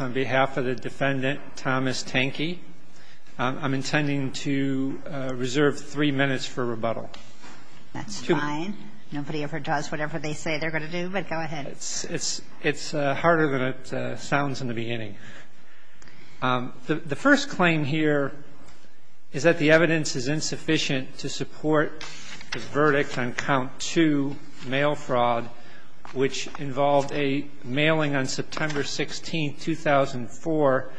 on behalf of the defendant Thomas Tanke. I'm intending to reserve three minutes for rebuttal. That's fine. Nobody ever does whatever they say they're going to do, but go ahead. It's harder than it sounds in the beginning. The first claim here is that the evidence is insufficient to support the verdict on count 2, mail fraud, which involved a mailing on September 16, 2004,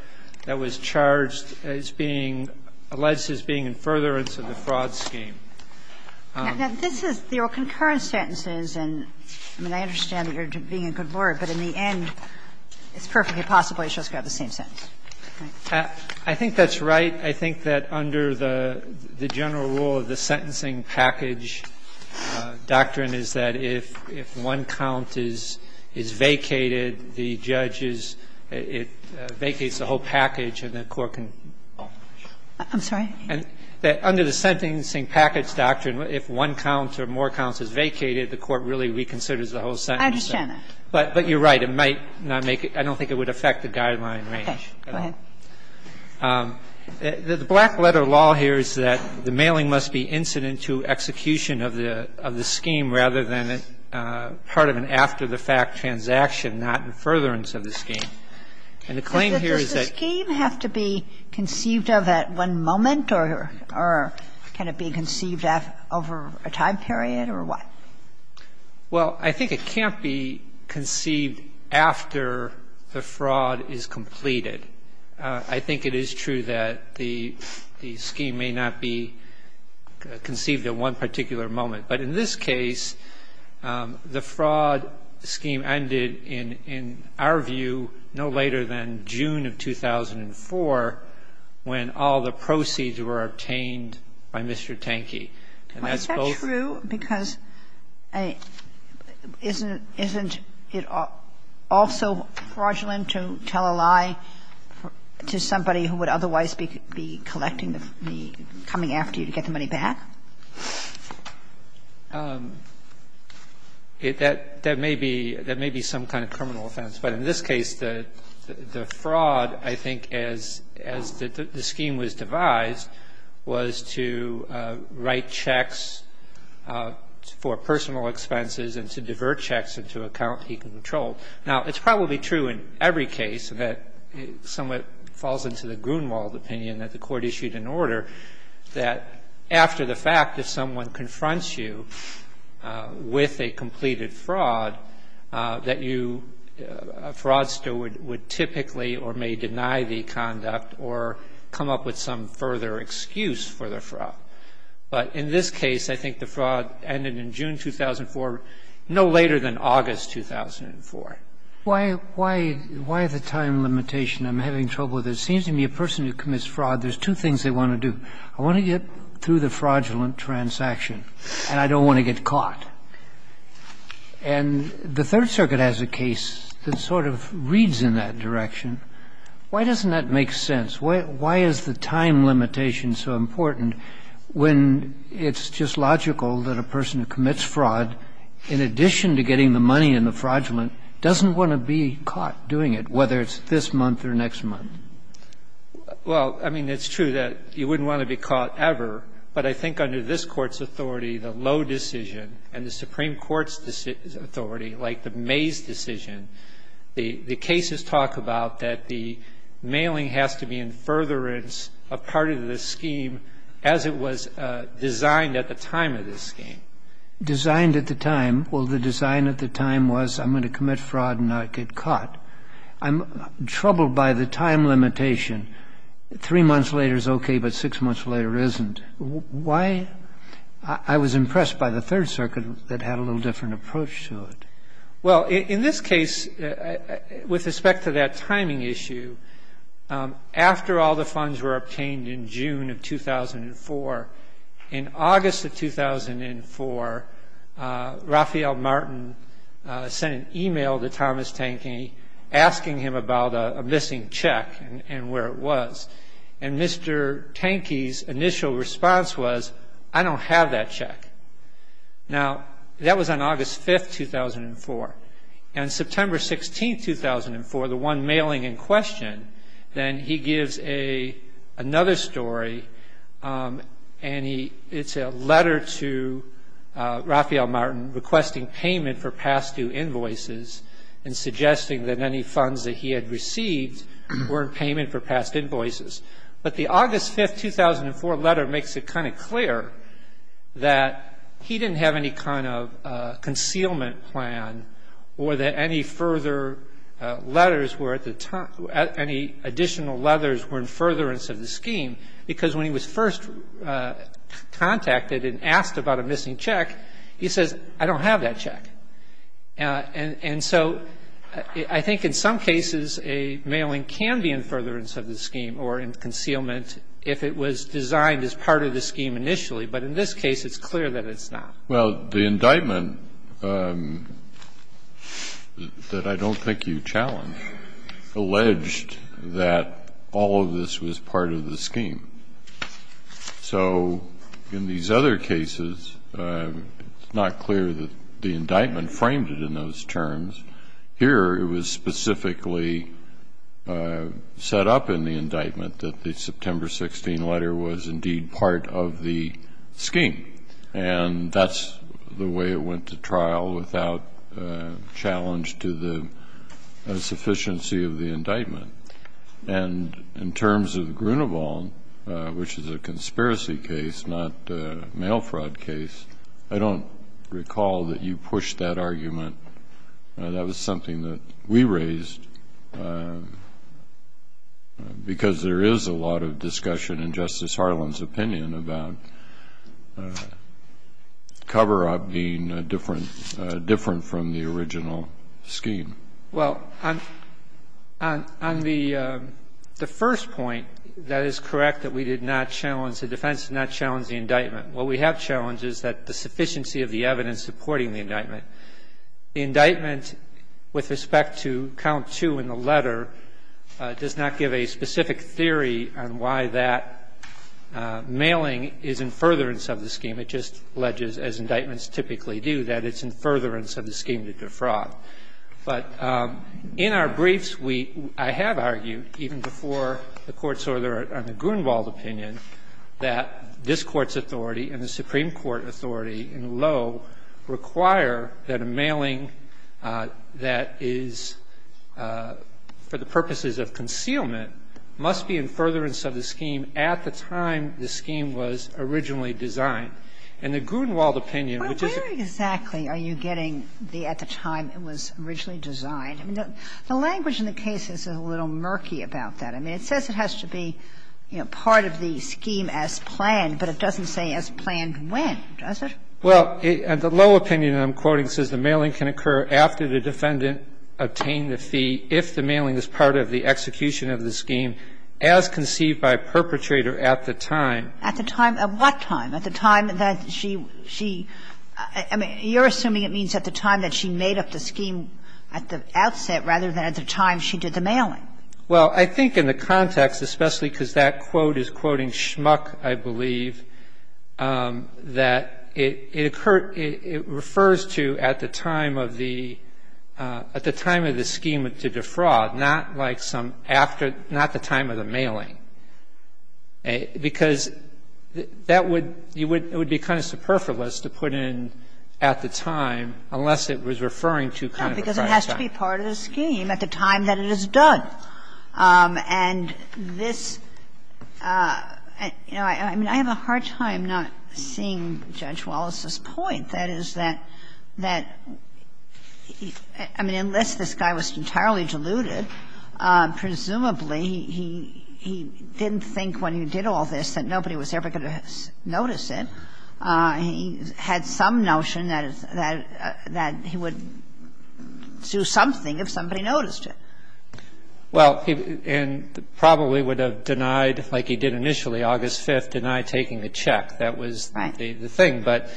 that was charged as being alleged as being in furtherance of the fraud scheme. Now, this is your concurrent sentences, and I mean, I understand that you're being a good lawyer, but in the end, it's perfectly possible it's just got the same sentence. Right? I think that's right. I think that under the general rule of the sentencing package doctrine is that if one count is vacated, the judge is – it vacates the whole package and the court can go on. I'm sorry? Under the sentencing package doctrine, if one count or more counts is vacated, the court really reconsiders the whole sentence. I understand that. But you're right. It might not make it – I don't think it would affect the guideline range at all. Okay. Go ahead. The black letter law here is that the mailing must be incident to execution of the scheme rather than part of an after-the-fact transaction, not in furtherance of the scheme. And the claim here is that – Does the scheme have to be conceived of at one moment, or can it be conceived over a time period, or what? Well, I think it can't be conceived after the fraud is completed. I think it is true that the scheme may not be conceived at one particular moment. But in this case, the fraud scheme ended in, in our view, no later than June of 2004 when all the proceeds were obtained by Mr. Tankey. And that's both – Isn't it also fraudulent to tell a lie to somebody who would otherwise be collecting the – coming after you to get the money back? That may be some kind of criminal offense. But in this case, the fraud, I think, as the scheme was devised, was to write checks for personal expenses and to divert checks into an account he controlled. Now, it's probably true in every case that it somewhat falls into the Grunewald opinion that the court issued an order that after the fact, if someone confronts you with a completed fraud, that you – a fraudster would typically or may deny the conduct or come up with some further excuse for the fraud. But in this case, I think the fraud ended in June 2004, no later than August 2004. Why the time limitation? I'm having trouble with it. It seems to me a person who commits fraud, there's two things they want to do. I want to get through the fraudulent transaction, and I don't want to get caught. And the Third Circuit has a case that sort of reads in that direction. Why doesn't that make sense? Why is the time limitation so important when it's just logical that a person who commits fraud, in addition to getting the money in the fraudulent, doesn't want to be caught doing it, whether it's this month or next month? Well, I mean, it's true that you wouldn't want to be caught ever. But I think under this Court's authority, the low decision and the Supreme Court's authority, like the Mays decision, the cases talk about that the mailing has to be in furtherance of part of the scheme as it was designed at the time of this scheme. Designed at the time? Well, the design at the time was I'm going to commit fraud and not get caught. I'm troubled by the time limitation. Three months later is okay, but six months later isn't. Why? I was impressed by the Third Circuit that had a little different approach to it. Well, in this case, with respect to that timing issue, after all the funds were obtained in June of 2004, in August of 2004, Rafael Martin sent an e-mail to Thomas Tankey asking him about a missing check and where it was. And Mr. Tankey's initial response was, I don't have that check. Now, that was on August 5th, 2004. And September 16th, 2004, the one mailing in question, then he gives another story and it's a letter to Rafael Martin requesting payment for past due invoices and suggesting that any funds that he had received were in payment for past invoices. But the August 5th, 2004 letter makes it kind of clear that he didn't have any kind of concealment plan or that any further letters were at the time, any additional letters were in furtherance of the scheme because when he was first contacted and asked about a missing check, he says, I don't have that check. And so I think in some cases, a mailing can be in furtherance of the scheme or in concealment if it was designed as part of the scheme initially. But in this case, it's clear that it's not. Well, the indictment that I don't think you challenged alleged that all of this was part of the scheme. So in these other cases, it's not clear that the indictment framed it in those terms. Here, it was specifically set up in the indictment that the September 16th letter was indeed part of the scheme. And that's the way it went to trial without challenge to the sufficiency of the indictment. And in terms of Grunewald, which is a conspiracy case, not a mail fraud case, I don't recall that you pushed that argument. That was something that we raised because there is a lot of discussion in Justice Harlan's opinion about cover-up being different from the original scheme. Well, on the first point, that is correct that we did not challenge, the defense did not challenge the indictment. What we have challenged is that the sufficiency of the evidence supporting the indictment. The indictment with respect to count two in the letter does not give a specific theory on why that mailing is in furtherance of the scheme. It just alleges, as indictments typically do, that it's in furtherance of the scheme to defraud. But in our briefs, we – I have argued, even before the Court's order on the Grunewald opinion, that this Court's authority and the Supreme Court authority in Lowe require that a mailing that is for the purposes of concealment must be in furtherance of the scheme at the time the scheme was originally designed. And the Grunewald opinion, which is a – Sotomayor, are you getting the at the time it was originally designed? I mean, the language in the case is a little murky about that. I mean, it says it has to be part of the scheme as planned, but it doesn't say as planned when, does it? Well, the Lowe opinion that I'm quoting says the mailing can occur after the defendant obtained the fee if the mailing is part of the execution of the scheme as conceived by a perpetrator at the time. At the time? At what time? At the time that she – she – I mean, you're assuming it means at the time that she made up the scheme at the outset rather than at the time she did the mailing. Well, I think in the context, especially because that quote is quoting Schmuck, I believe, that it occurred – it refers to at the time of the – at the time of the scheme to defraud, not like some after – not the time of the mailing. Because that would – it would be kind of superfluous to put in at the time unless it was referring to kind of a prior time. No, because it has to be part of the scheme at the time that it is done. And this – you know, I mean, I have a hard time not seeing Judge Wallace's point, that is, that – that – I mean, unless this guy was entirely deluded, presumably he – he didn't think when he did all this that nobody was ever going to notice it. He had some notion that – that he would do something if somebody noticed it. Well, and probably would have denied, like he did initially, August 5th, denied taking the check. That was the thing. Right.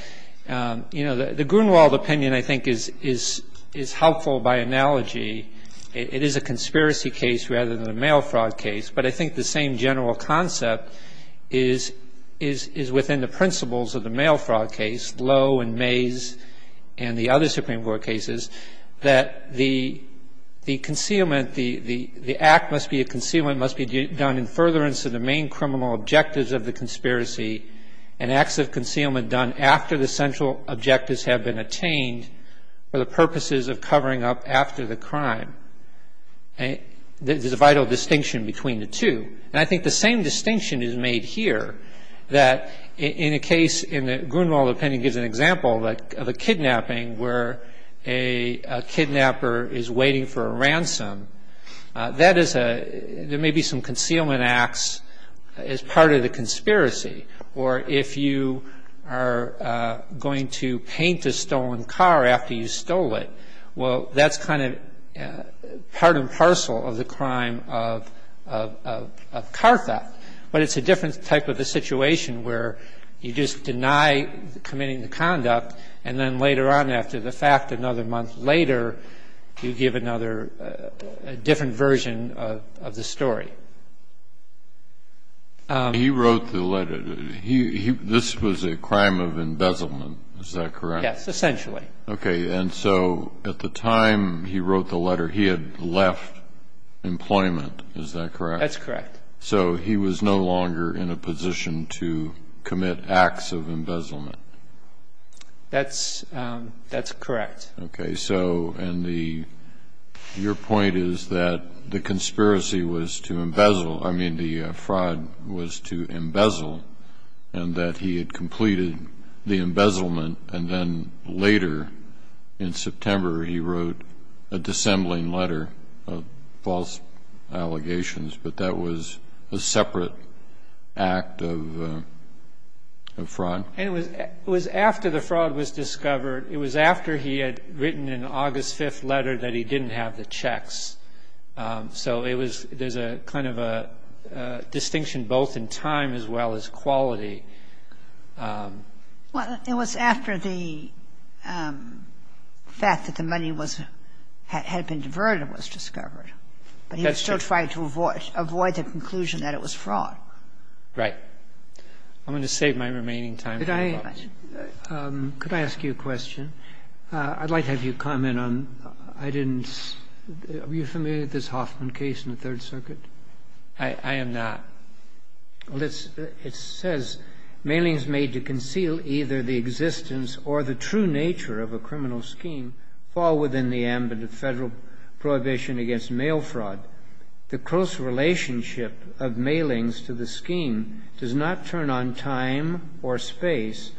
But, you know, the Grunewald opinion, I think, is – is helpful by analogy. It is a conspiracy case rather than a mail fraud case. But I think the same general concept is – is within the principles of the mail fraud case, Lowe and Mays and the other Supreme Court cases, that the – the concealment – the act must be a concealment, must be done in furtherance of the main criminal objectives of the conspiracy, and acts of concealment done after the central objectives have been attained for the purposes of covering up after the crime. There's a vital distinction between the two. And I think the same distinction is made here, that in a case – in the Grunewald opinion gives an example of a kidnapping where a kidnapper is waiting for a ransom. That is a – there may be some concealment acts as part of the conspiracy. Or if you are going to paint a stolen car after you stole it, well, that's kind of part and parcel of the crime of – of car theft. But it's a different type of a situation where you just deny committing the conduct and then later on after the fact, another month later, you give another – a different version of the story. He wrote the letter. He – this was a crime of embezzlement, is that correct? Yes, essentially. Okay. And so at the time he wrote the letter, he had left employment, is that correct? That's correct. So he was no longer in a position to commit acts of embezzlement. That's – that's correct. Okay. So – and the – your point is that the conspiracy was to embezzle – I mean, the fraud was to embezzle and that he had completed the embezzlement and then later in September he wrote a dissembling letter of false allegations. But that was a separate act of fraud. And it was – it was after the fraud was discovered. It was after he had written an August 5th letter that he didn't have the checks. So it was – there's a kind of a distinction both in time as well as quality. Well, it was after the fact that the money was – had been diverted was discovered. But he was still trying to avoid – avoid the conclusion that it was fraud. Right. I'm going to save my remaining time. Could I ask you a question? I'd like to have you comment on – I didn't – are you familiar with this Hoffman case in the Third Circuit? I am not. Well, it's – it says, Malings made to conceal either the existence or the true nature of a criminal scheme fall within the ambit of Federal prohibition against mail fraud. The close relationship of Malings to the scheme does not turn on time or space,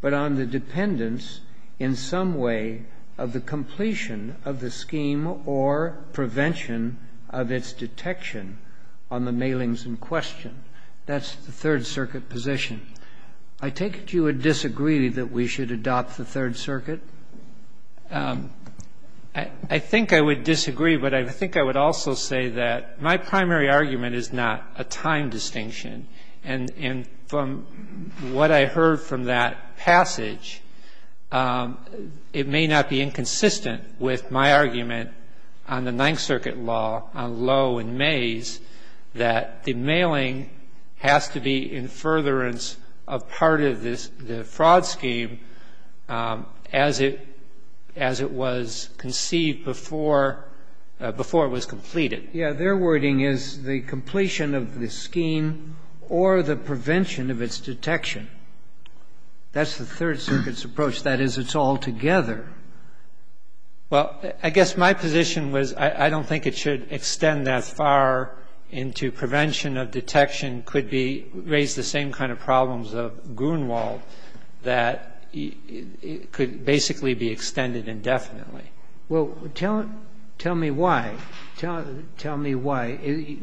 but on the dependence in some way of the completion of the scheme or prevention of its detection on the Malings in question. That's the Third Circuit position. I take it you would disagree that we should adopt the Third Circuit? I think I would disagree, but I think I would also say that my primary argument is not a time distinction. And from what I heard from that passage, it may not be inconsistent with my argument on the Ninth Circuit law, on Lowe and Mays, that the mailing has to be in furtherance of part of the fraud scheme as it was conceived before it was completed. Yes. Their wording is the completion of the scheme or the prevention of its detection. That's the Third Circuit's approach. That is, it's all together. Well, I guess my position was I don't think it should extend that far into prevention of detection could be raised the same kind of problems of Grunewald that could basically be extended indefinitely. Well, tell me why. Tell me why.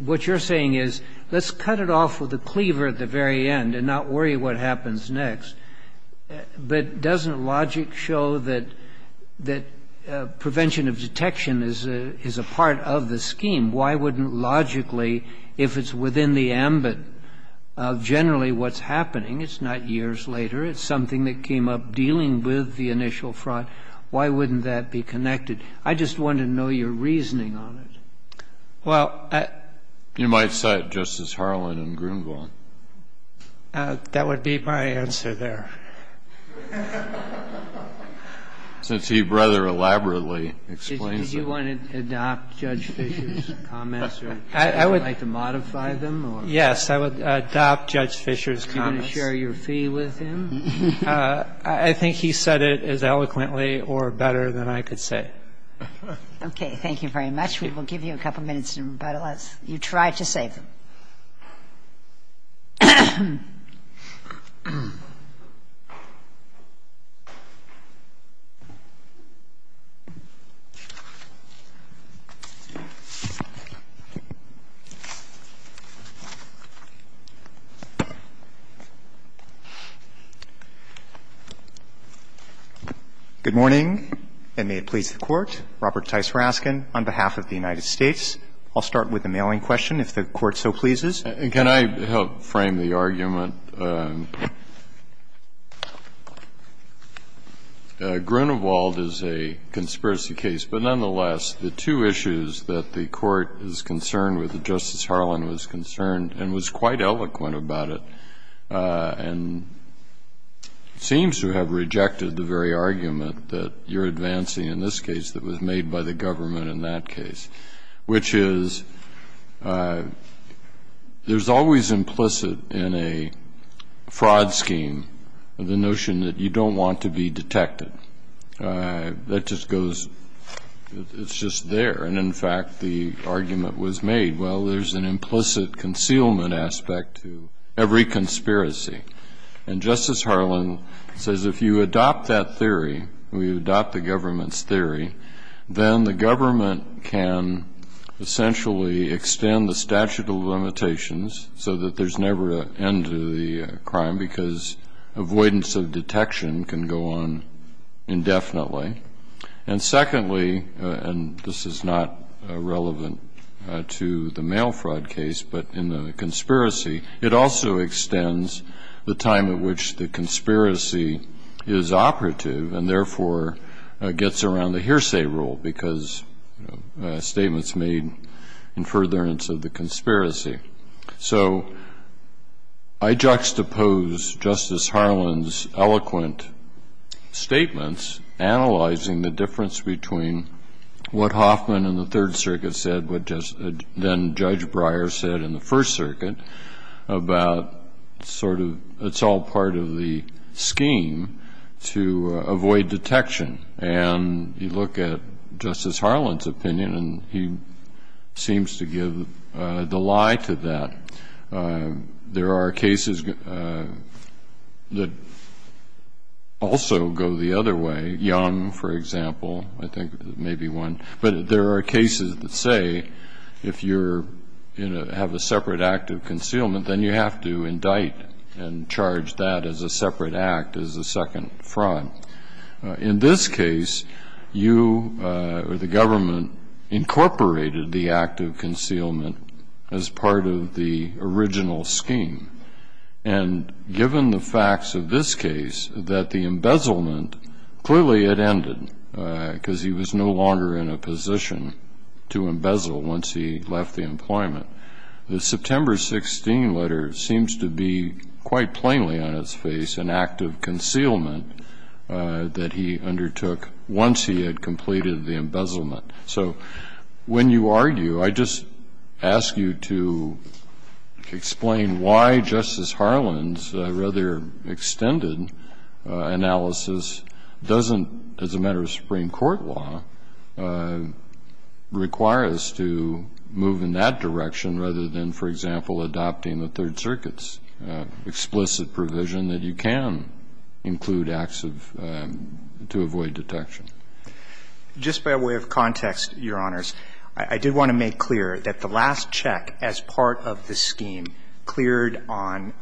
What you're saying is let's cut it off with a cleaver at the very end and not worry what happens next. But doesn't logic show that prevention of detection is a part of the scheme? Why wouldn't logically, if it's within the ambit of generally what's happening — it's not years later, it's something that came up dealing with the initial fraud — why wouldn't that be connected? I just want to know your reasoning on it. Well, I... You might cite Justice Harlan and Grunewald. That would be my answer there. Since he rather elaborately explains it. Do you want to adopt Judge Fisher's comments or would you like to modify them? Yes, I would adopt Judge Fisher's comments. Are you going to share your fee with him? I think he said it as eloquently or better than I could say. Okay. Thank you very much. We will give you a couple minutes in rebuttal as you try to save them. Good morning, and may it please the Court. Robert Tice Raskin on behalf of the United States. I'll start with the mailing question, if the Court so pleases. And can I help frame the argument? Grunewald is a conspiracy case, but nonetheless, the two issues that the Court is concerned with, that Justice Harlan was concerned and was quite eloquent about it, and seems to have rejected the very argument that you're advancing in this case that was made by the government in that case, which is there's always implicit in a fraud scheme the notion that you don't want to be detected. That just goes, it's just there. And, in fact, the argument was made, well, there's an implicit concealment aspect to every conspiracy. And Justice Harlan says if you adopt that theory, if you adopt the government's theory, then the government can essentially extend the statute of limitations so that there's never an end to the crime, because avoidance of detection can go on indefinitely. And secondly, and this is not relevant to the mail fraud case, but in the conspiracy, it also extends the time at which the conspiracy is operative and, therefore, gets around the hearsay rule, because statements made in furtherance of the conspiracy. So I juxtapose Justice Harlan's eloquent statements, analyzing the difference between what Hoffman in the Third Circuit said, what then-Judge Breyer said in the Fourth Circuit, about sort of it's all part of the scheme to avoid detection. And you look at Justice Harlan's opinion, and he seems to give the lie to that. There are cases that also go the other way. Young, for example, I think may be one. But there are cases that say if you have a separate act of concealment, then you have to indict and charge that as a separate act, as a second fraud. In this case, you or the government incorporated the act of concealment as part of the original scheme. And given the facts of this case, that the embezzlement, clearly it ended, because he was no longer in a position to embezzle once he left the employment, the September 16 letter seems to be quite plainly on its face an act of concealment that he undertook once he had completed the embezzlement. So when you argue, I just ask you to explain why Justice Harlan's rather extended analysis doesn't, as a matter of Supreme Court law, require us to move in that direction rather than, for example, adopting the Third Circuit's explicit provision that you can include acts of to avoid detection. Just by way of context, Your Honors, I did want to make clear that the last check was issued as part of the scheme, cleared on,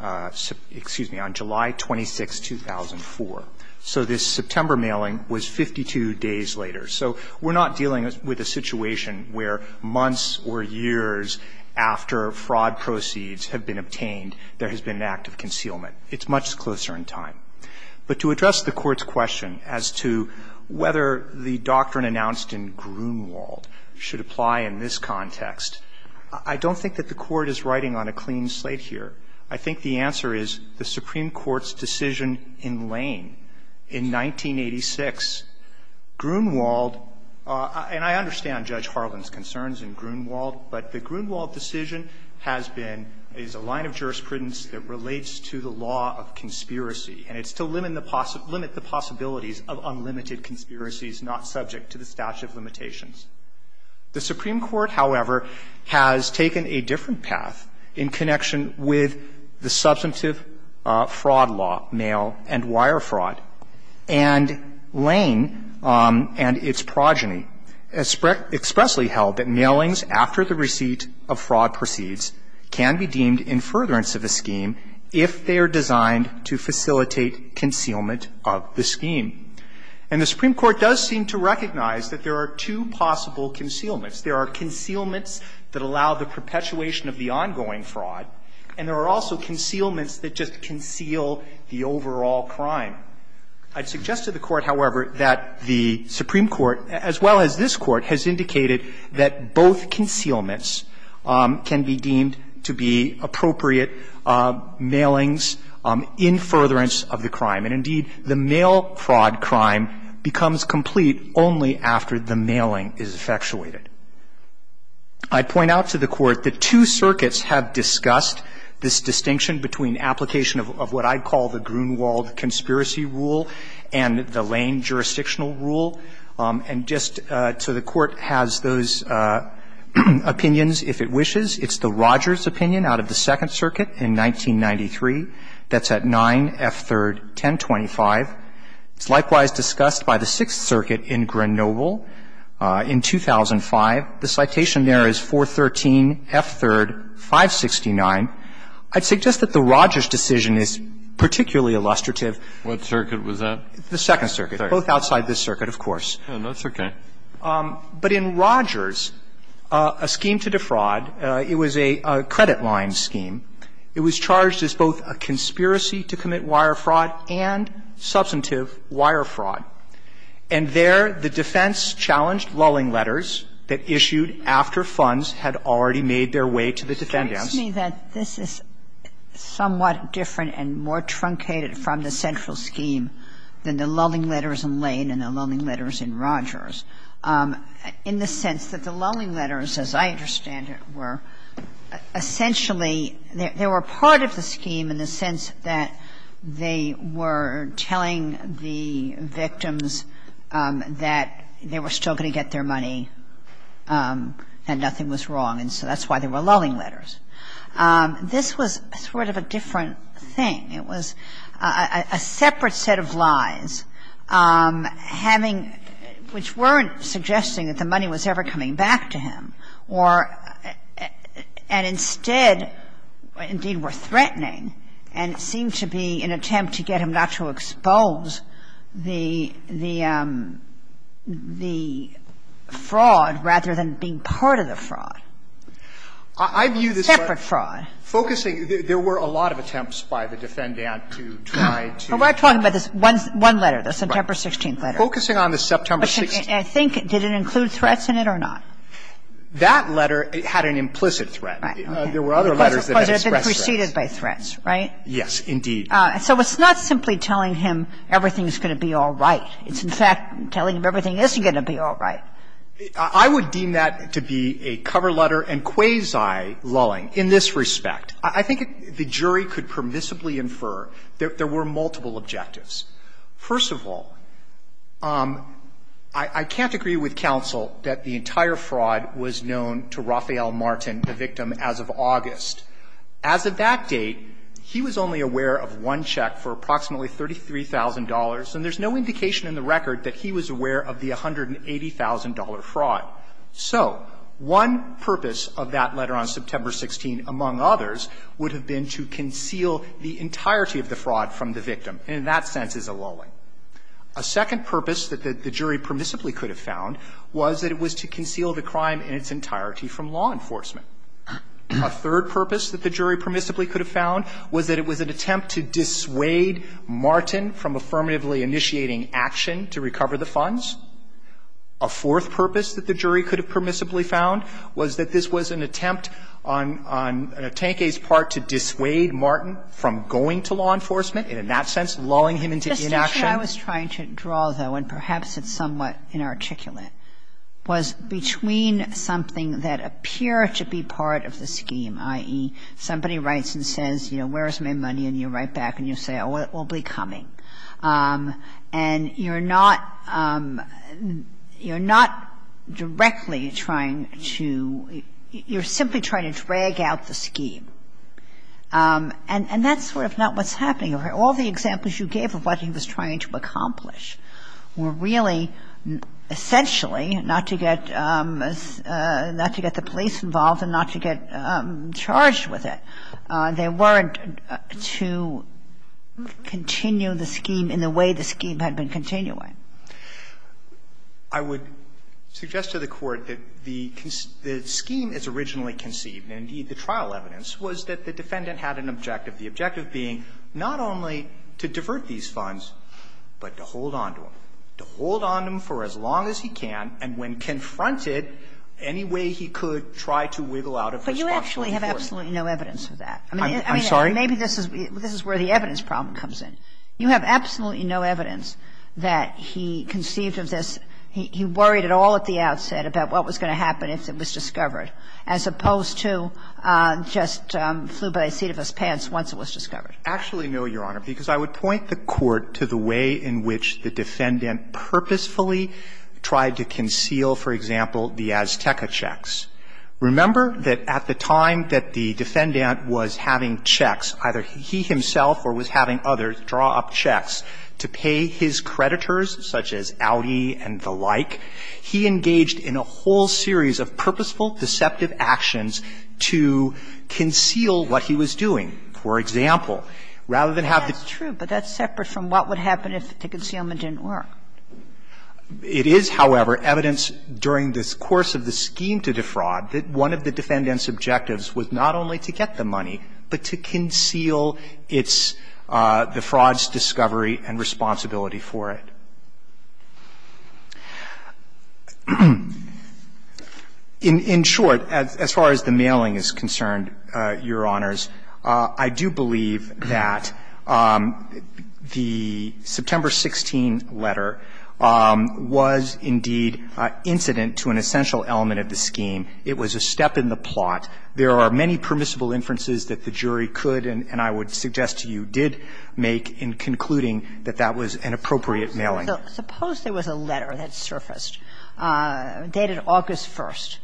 excuse me, on July 26, 2004. So this September mailing was 52 days later. So we're not dealing with a situation where months or years after fraud proceeds have been obtained, there has been an act of concealment. It's much closer in time. But to address the Court's question as to whether the doctrine announced in Grunewald should apply in this context, I don't think that the Court is writing on a clean slate here. I think the answer is the Supreme Court's decision in Lane in 1986. Grunewald, and I understand Judge Harlan's concerns in Grunewald, but the Grunewald decision has been, is a line of jurisprudence that relates to the law of conspiracy, and it's to limit the possibilities of unlimited conspiracies not subject to the statute of limitations. The Supreme Court, however, has taken a different path in connection with the substantive fraud law, mail and wire fraud. And Lane and its progeny expressly held that mailings after the receipt of fraud proceeds can be deemed in furtherance of a scheme if they are designed to facilitate concealment of the scheme. And the Supreme Court does seem to recognize that there are two possible concealments. There are concealments that allow the perpetuation of the ongoing fraud, and there are also concealments that just conceal the overall crime. I'd suggest to the Court, however, that the Supreme Court, as well as this Court, has indicated that both concealments can be deemed to be appropriate mailings in furtherance of the crime. And, indeed, the mail fraud crime becomes complete only after the mailing is effectuated. I'd point out to the Court that two circuits have discussed this distinction between application of what I'd call the Grunewald conspiracy rule and the Lane jurisdictional rule. And just so the Court has those opinions, if it wishes, it's the Rogers opinion out of the Second Circuit in 1993, that's at 9F3rd.1025. It's likewise discussed by the Sixth Circuit in Grenoble in 2005. The citation there is 413F3rd.569. I'd suggest that the Rogers decision is particularly illustrative. Kennedy, what circuit was that? The Second Circuit, both outside this circuit, of course. No, that's okay. But in Rogers, a scheme to defraud, it was a credit line scheme. It was charged as both a conspiracy to commit wire fraud and substantive wire fraud. And there the defense challenged lulling letters that issued after funds had already made their way to the defendants. It strikes me that this is somewhat different and more truncated from the central scheme than the lulling letters in Lane and the lulling letters in Rogers. In the sense that the lulling letters, as I understand it, were essentially they were part of the scheme in the sense that they were telling the victims that they were still going to get their money and nothing was wrong. And so that's why they were lulling letters. This was sort of a different thing. It was a separate set of lies having, which weren't suggesting that the money was ever coming back to him, or and instead indeed were threatening and seemed to be an attempt to get him not to expose the fraud rather than being part of the fraud. Separate fraud. And so that's what I'm trying to get at in this case, is that there was an attempt Roberts. Kagan. Focusing, there were a lot of attempts by the defendant to try to. But we're talking about this one letter, the September 16th letter. Right. Focusing on the September 16th letter. I think, did it include threats in it or not? That letter had an implicit threat. Right. There were other letters that expressed threats. It preceded by threats, right? Yes, indeed. So it's not simply telling him everything's going to be all right. It's in fact telling him everything isn't going to be all right. I would deem that to be a cover letter and quasi-lulling in this respect. I think the jury could permissibly infer there were multiple objectives. First of all, I can't agree with counsel that the entire fraud was known to Raphael Martin, the victim, as of August. As of that date, he was only aware of one check for approximately $33,000, and there's no indication in the record that he was aware of the $180,000 fraud. So one purpose of that letter on September 16, among others, would have been to conceal the entirety of the fraud from the victim, and in that sense is a lulling. A second purpose that the jury permissibly could have found was that it was to conceal the crime in its entirety from law enforcement. A third purpose that the jury permissibly could have found was that it was an attempt to dissuade Martin from affirmatively initiating action to recover the funds. A fourth purpose that the jury could have permissibly found was that this was an attempt on Tanque's part to dissuade Martin from going to law enforcement, and in that sense lulling him into inaction. Kagan. I was trying to draw, though, and perhaps it's somewhat inarticulate, was between something that appeared to be part of the scheme, i.e., somebody writes and says, you know, where's my money, and you write back and you say, oh, it will be coming, and you're not – you're not directly trying to – you're simply trying to drag out the scheme. And that's sort of not what's happening. All the examples you gave of what he was trying to accomplish were really, essentially, not to get – not to get the police involved and not to get charged with it. They weren't to continue the scheme in the way the scheme had been continuing. I would suggest to the Court that the scheme as originally conceived, and indeed the trial evidence, was that the defendant had an objective, the objective being not only to divert these funds, but to hold on to them, to hold on to them for as long as he can, and when confronted, any way he could, try to wiggle out of his responsibility for it. Kagan. But you actually have absolutely no evidence of that. I mean, maybe this is where the evidence problem comes in. You have absolutely no evidence that he conceived of this. He worried at all at the outset about what was going to happen if it was discovered, as opposed to just flew by the seat of his pants once it was discovered. Actually, no, Your Honor, because I would point the Court to the way in which the defendant purposefully tried to conceal, for example, the Azteca checks. Remember that at the time that the defendant was having checks, either he himself or was having others draw up checks to pay his creditors, such as Audi and the like, he engaged in a whole series of purposeful, deceptive actions to conceal what he was doing. For example, rather than have the checks. That's true, but that's separate from what would happen if the concealment didn't work. It is, however, evidence during this course of the scheme to defraud that one of the defendant's objectives was not only to get the money, but to conceal its the fraud's discovery and responsibility for it. In short, as far as the mailing is concerned, Your Honors, I would say that the defraud I do believe that the September 16 letter was indeed incident to an essential element of the scheme. It was a step in the plot. There are many permissible inferences that the jury could and I would suggest to you did make in concluding that that was an appropriate mailing. Suppose there was a letter that surfaced dated August 1st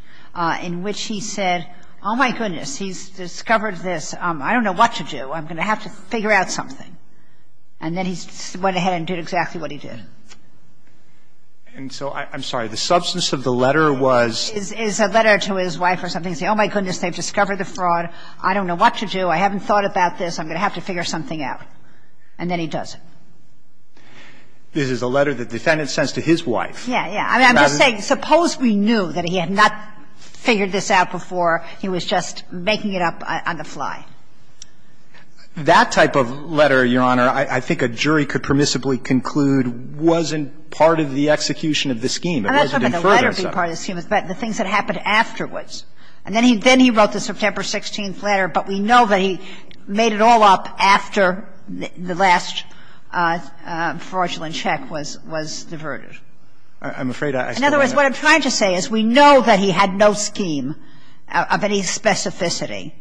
in which he said, oh, my goodness, he's discovered this. I don't know what to do. I'm going to have to figure out something. And then he went ahead and did exactly what he did. And so I'm sorry, the substance of the letter was? It's a letter to his wife or something. He said, oh, my goodness, they've discovered the fraud. I don't know what to do. I haven't thought about this. I'm going to have to figure something out. And then he does it. This is a letter the defendant sends to his wife. Yeah, yeah. I'm just saying, suppose we knew that he had not figured this out before. He was just making it up on the fly. That type of letter, Your Honor, I think a jury could permissibly conclude wasn't part of the execution of the scheme. It wasn't in furtherance of it. And I'm not talking about the letter being part of the scheme, it's about the things that happened afterwards. And then he wrote the September 16th letter, but we know that he made it all up after the last fraudulent check was diverted. I'm afraid I still don't have it. In other words, what I'm trying to say is we know that he had no scheme of any specificity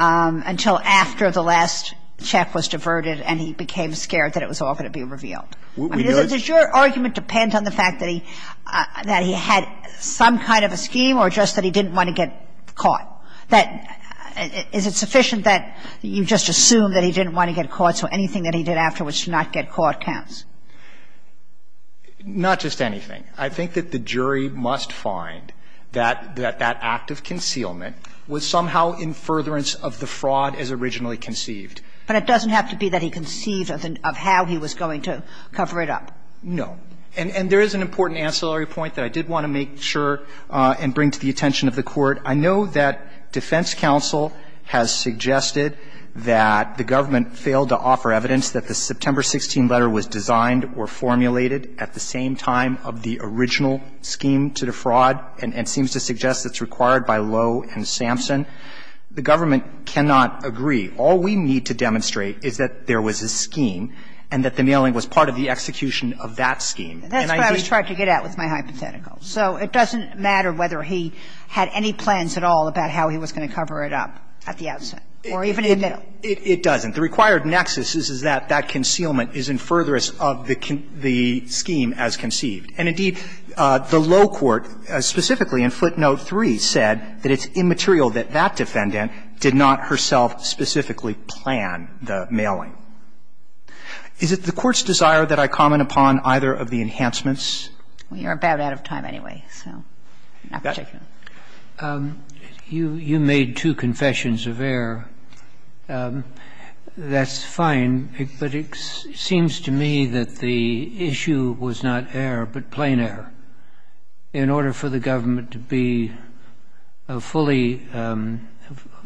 until after the last check was diverted and he became scared that it was all going to be revealed. We know it's not. Does your argument depend on the fact that he had some kind of a scheme or just that he didn't want to get caught? Is it sufficient that you just assume that he didn't want to get caught, so anything that he did afterwards to not get caught counts? Not just anything. I think that the jury must find that that act of concealment was somehow in furtherance of the fraud as originally conceived. But it doesn't have to be that he conceived of how he was going to cover it up. No. And there is an important ancillary point that I did want to make sure and bring to the attention of the Court. I know that defense counsel has suggested that the government failed to offer evidence that the September 16 letter was designed or formulated at the same time of the original scheme to defraud, and seems to suggest it's required by Lowe and Sampson. The government cannot agree. All we need to demonstrate is that there was a scheme and that the mailing was part of the execution of that scheme. And I just don't think that's the case. And that's what I was trying to get at with my hypothetical. So it doesn't matter whether he had any plans at all about how he was going to cover it up at the outset or even in the middle. It doesn't. The required nexus is that that concealment is in furtherance of the scheme as conceived. And indeed, the Lowe court, specifically in footnote 3, said that it's immaterial that that defendant did not herself specifically plan the mailing. Is it the Court's desire that I comment upon either of the enhancements? We are about out of time anyway, so not particularly. You made two confessions of error. That's fine, but it seems to me that the issue was not error, but plain error. In order for the government to be fully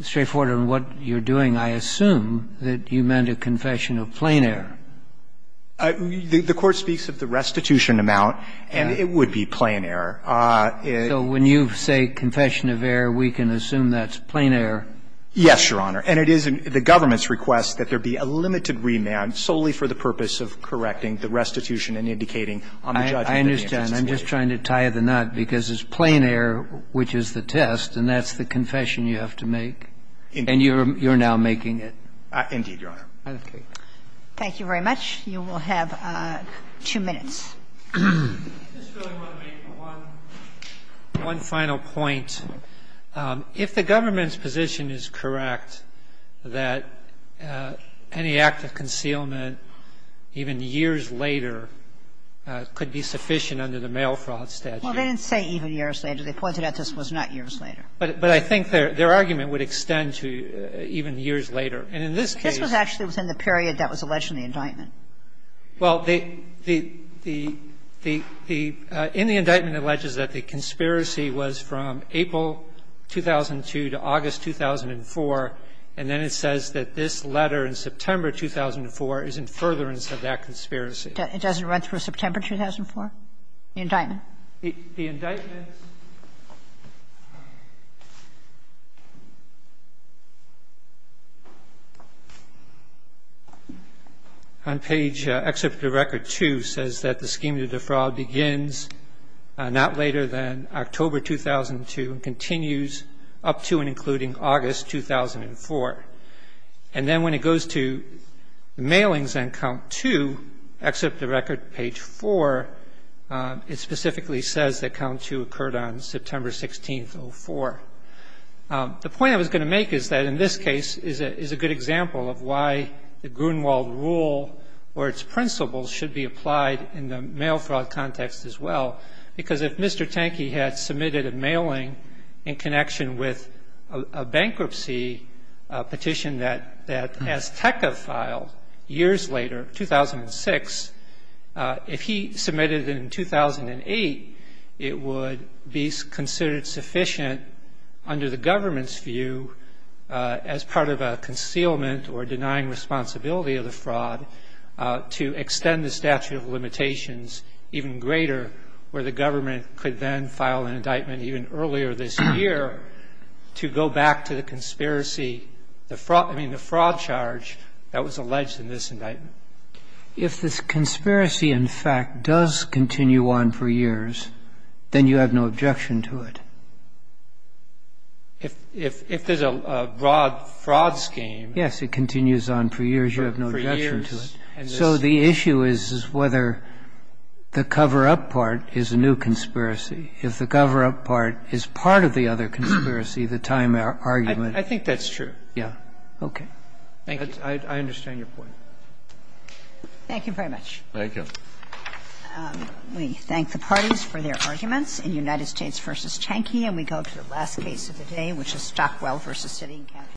straightforward on what you're doing, I assume that you meant a confession of plain error. The Court speaks of the restitution amount, and it would be plain error. So when you say confession of error, we can assume that's plain error? Yes, Your Honor. And it is the government's request that there be a limited remand solely for the purpose of correcting the restitution and indicating on the judgment that he had just made. I understand. I'm just trying to tie the knot, because it's plain error which is the test, and that's the confession you have to make. And you're now making it. Indeed, Your Honor. Thank you very much. You will have two minutes. I just really want to make one final point. If the government's position is correct that any act of concealment even years later could be sufficient under the mail fraud statute. Well, they didn't say even years later. They pointed out this was not years later. But I think their argument would extend to even years later. And in this case This was actually within the period that was alleged in the indictment. Well, the the the the the in the indictment alleges that the conspiracy was from April 2002 to August 2004, and then it says that this letter in September 2004 is in furtherance of that conspiracy. It doesn't run through September 2004, the indictment? The indictment. On page, except for the record, too, says that the scheme of the defraud begins not later than October 2002 and continues up to and including August 2004. And then when it goes to mailings and count to accept the record page for its specifically says that count to occurred on September 16th for the point I was going to make is that in this case is a is a good example of why the Grunewald rule or its principles should be applied in the mail fraud context as well. Because if Mr. Tanky had submitted a mailing in connection with a bankruptcy petition that that as TECA filed years later, 2006. If he submitted in 2008, it would be considered sufficient under the government's view as part of a concealment or denying responsibility of the fraud to extend the statute of limitations even greater where the government could then file an indictment even earlier this year to go back to the conspiracy, the fraud charge that was alleged in this indictment. If this conspiracy, in fact, does continue on for years, then you have no objection to it. If there's a broad fraud scheme. Yes, it continues on for years. You have no objection to it. So the issue is whether the cover-up part is a new conspiracy. If the cover-up part is part of the other conspiracy, the time argument. I think that's true. Yeah. Okay. Thank you. I understand your point. Thank you very much. Thank you. We thank the parties for their arguments in United States v. Tanky, and we go to the last case of the day, which is Stockwell v. City and County.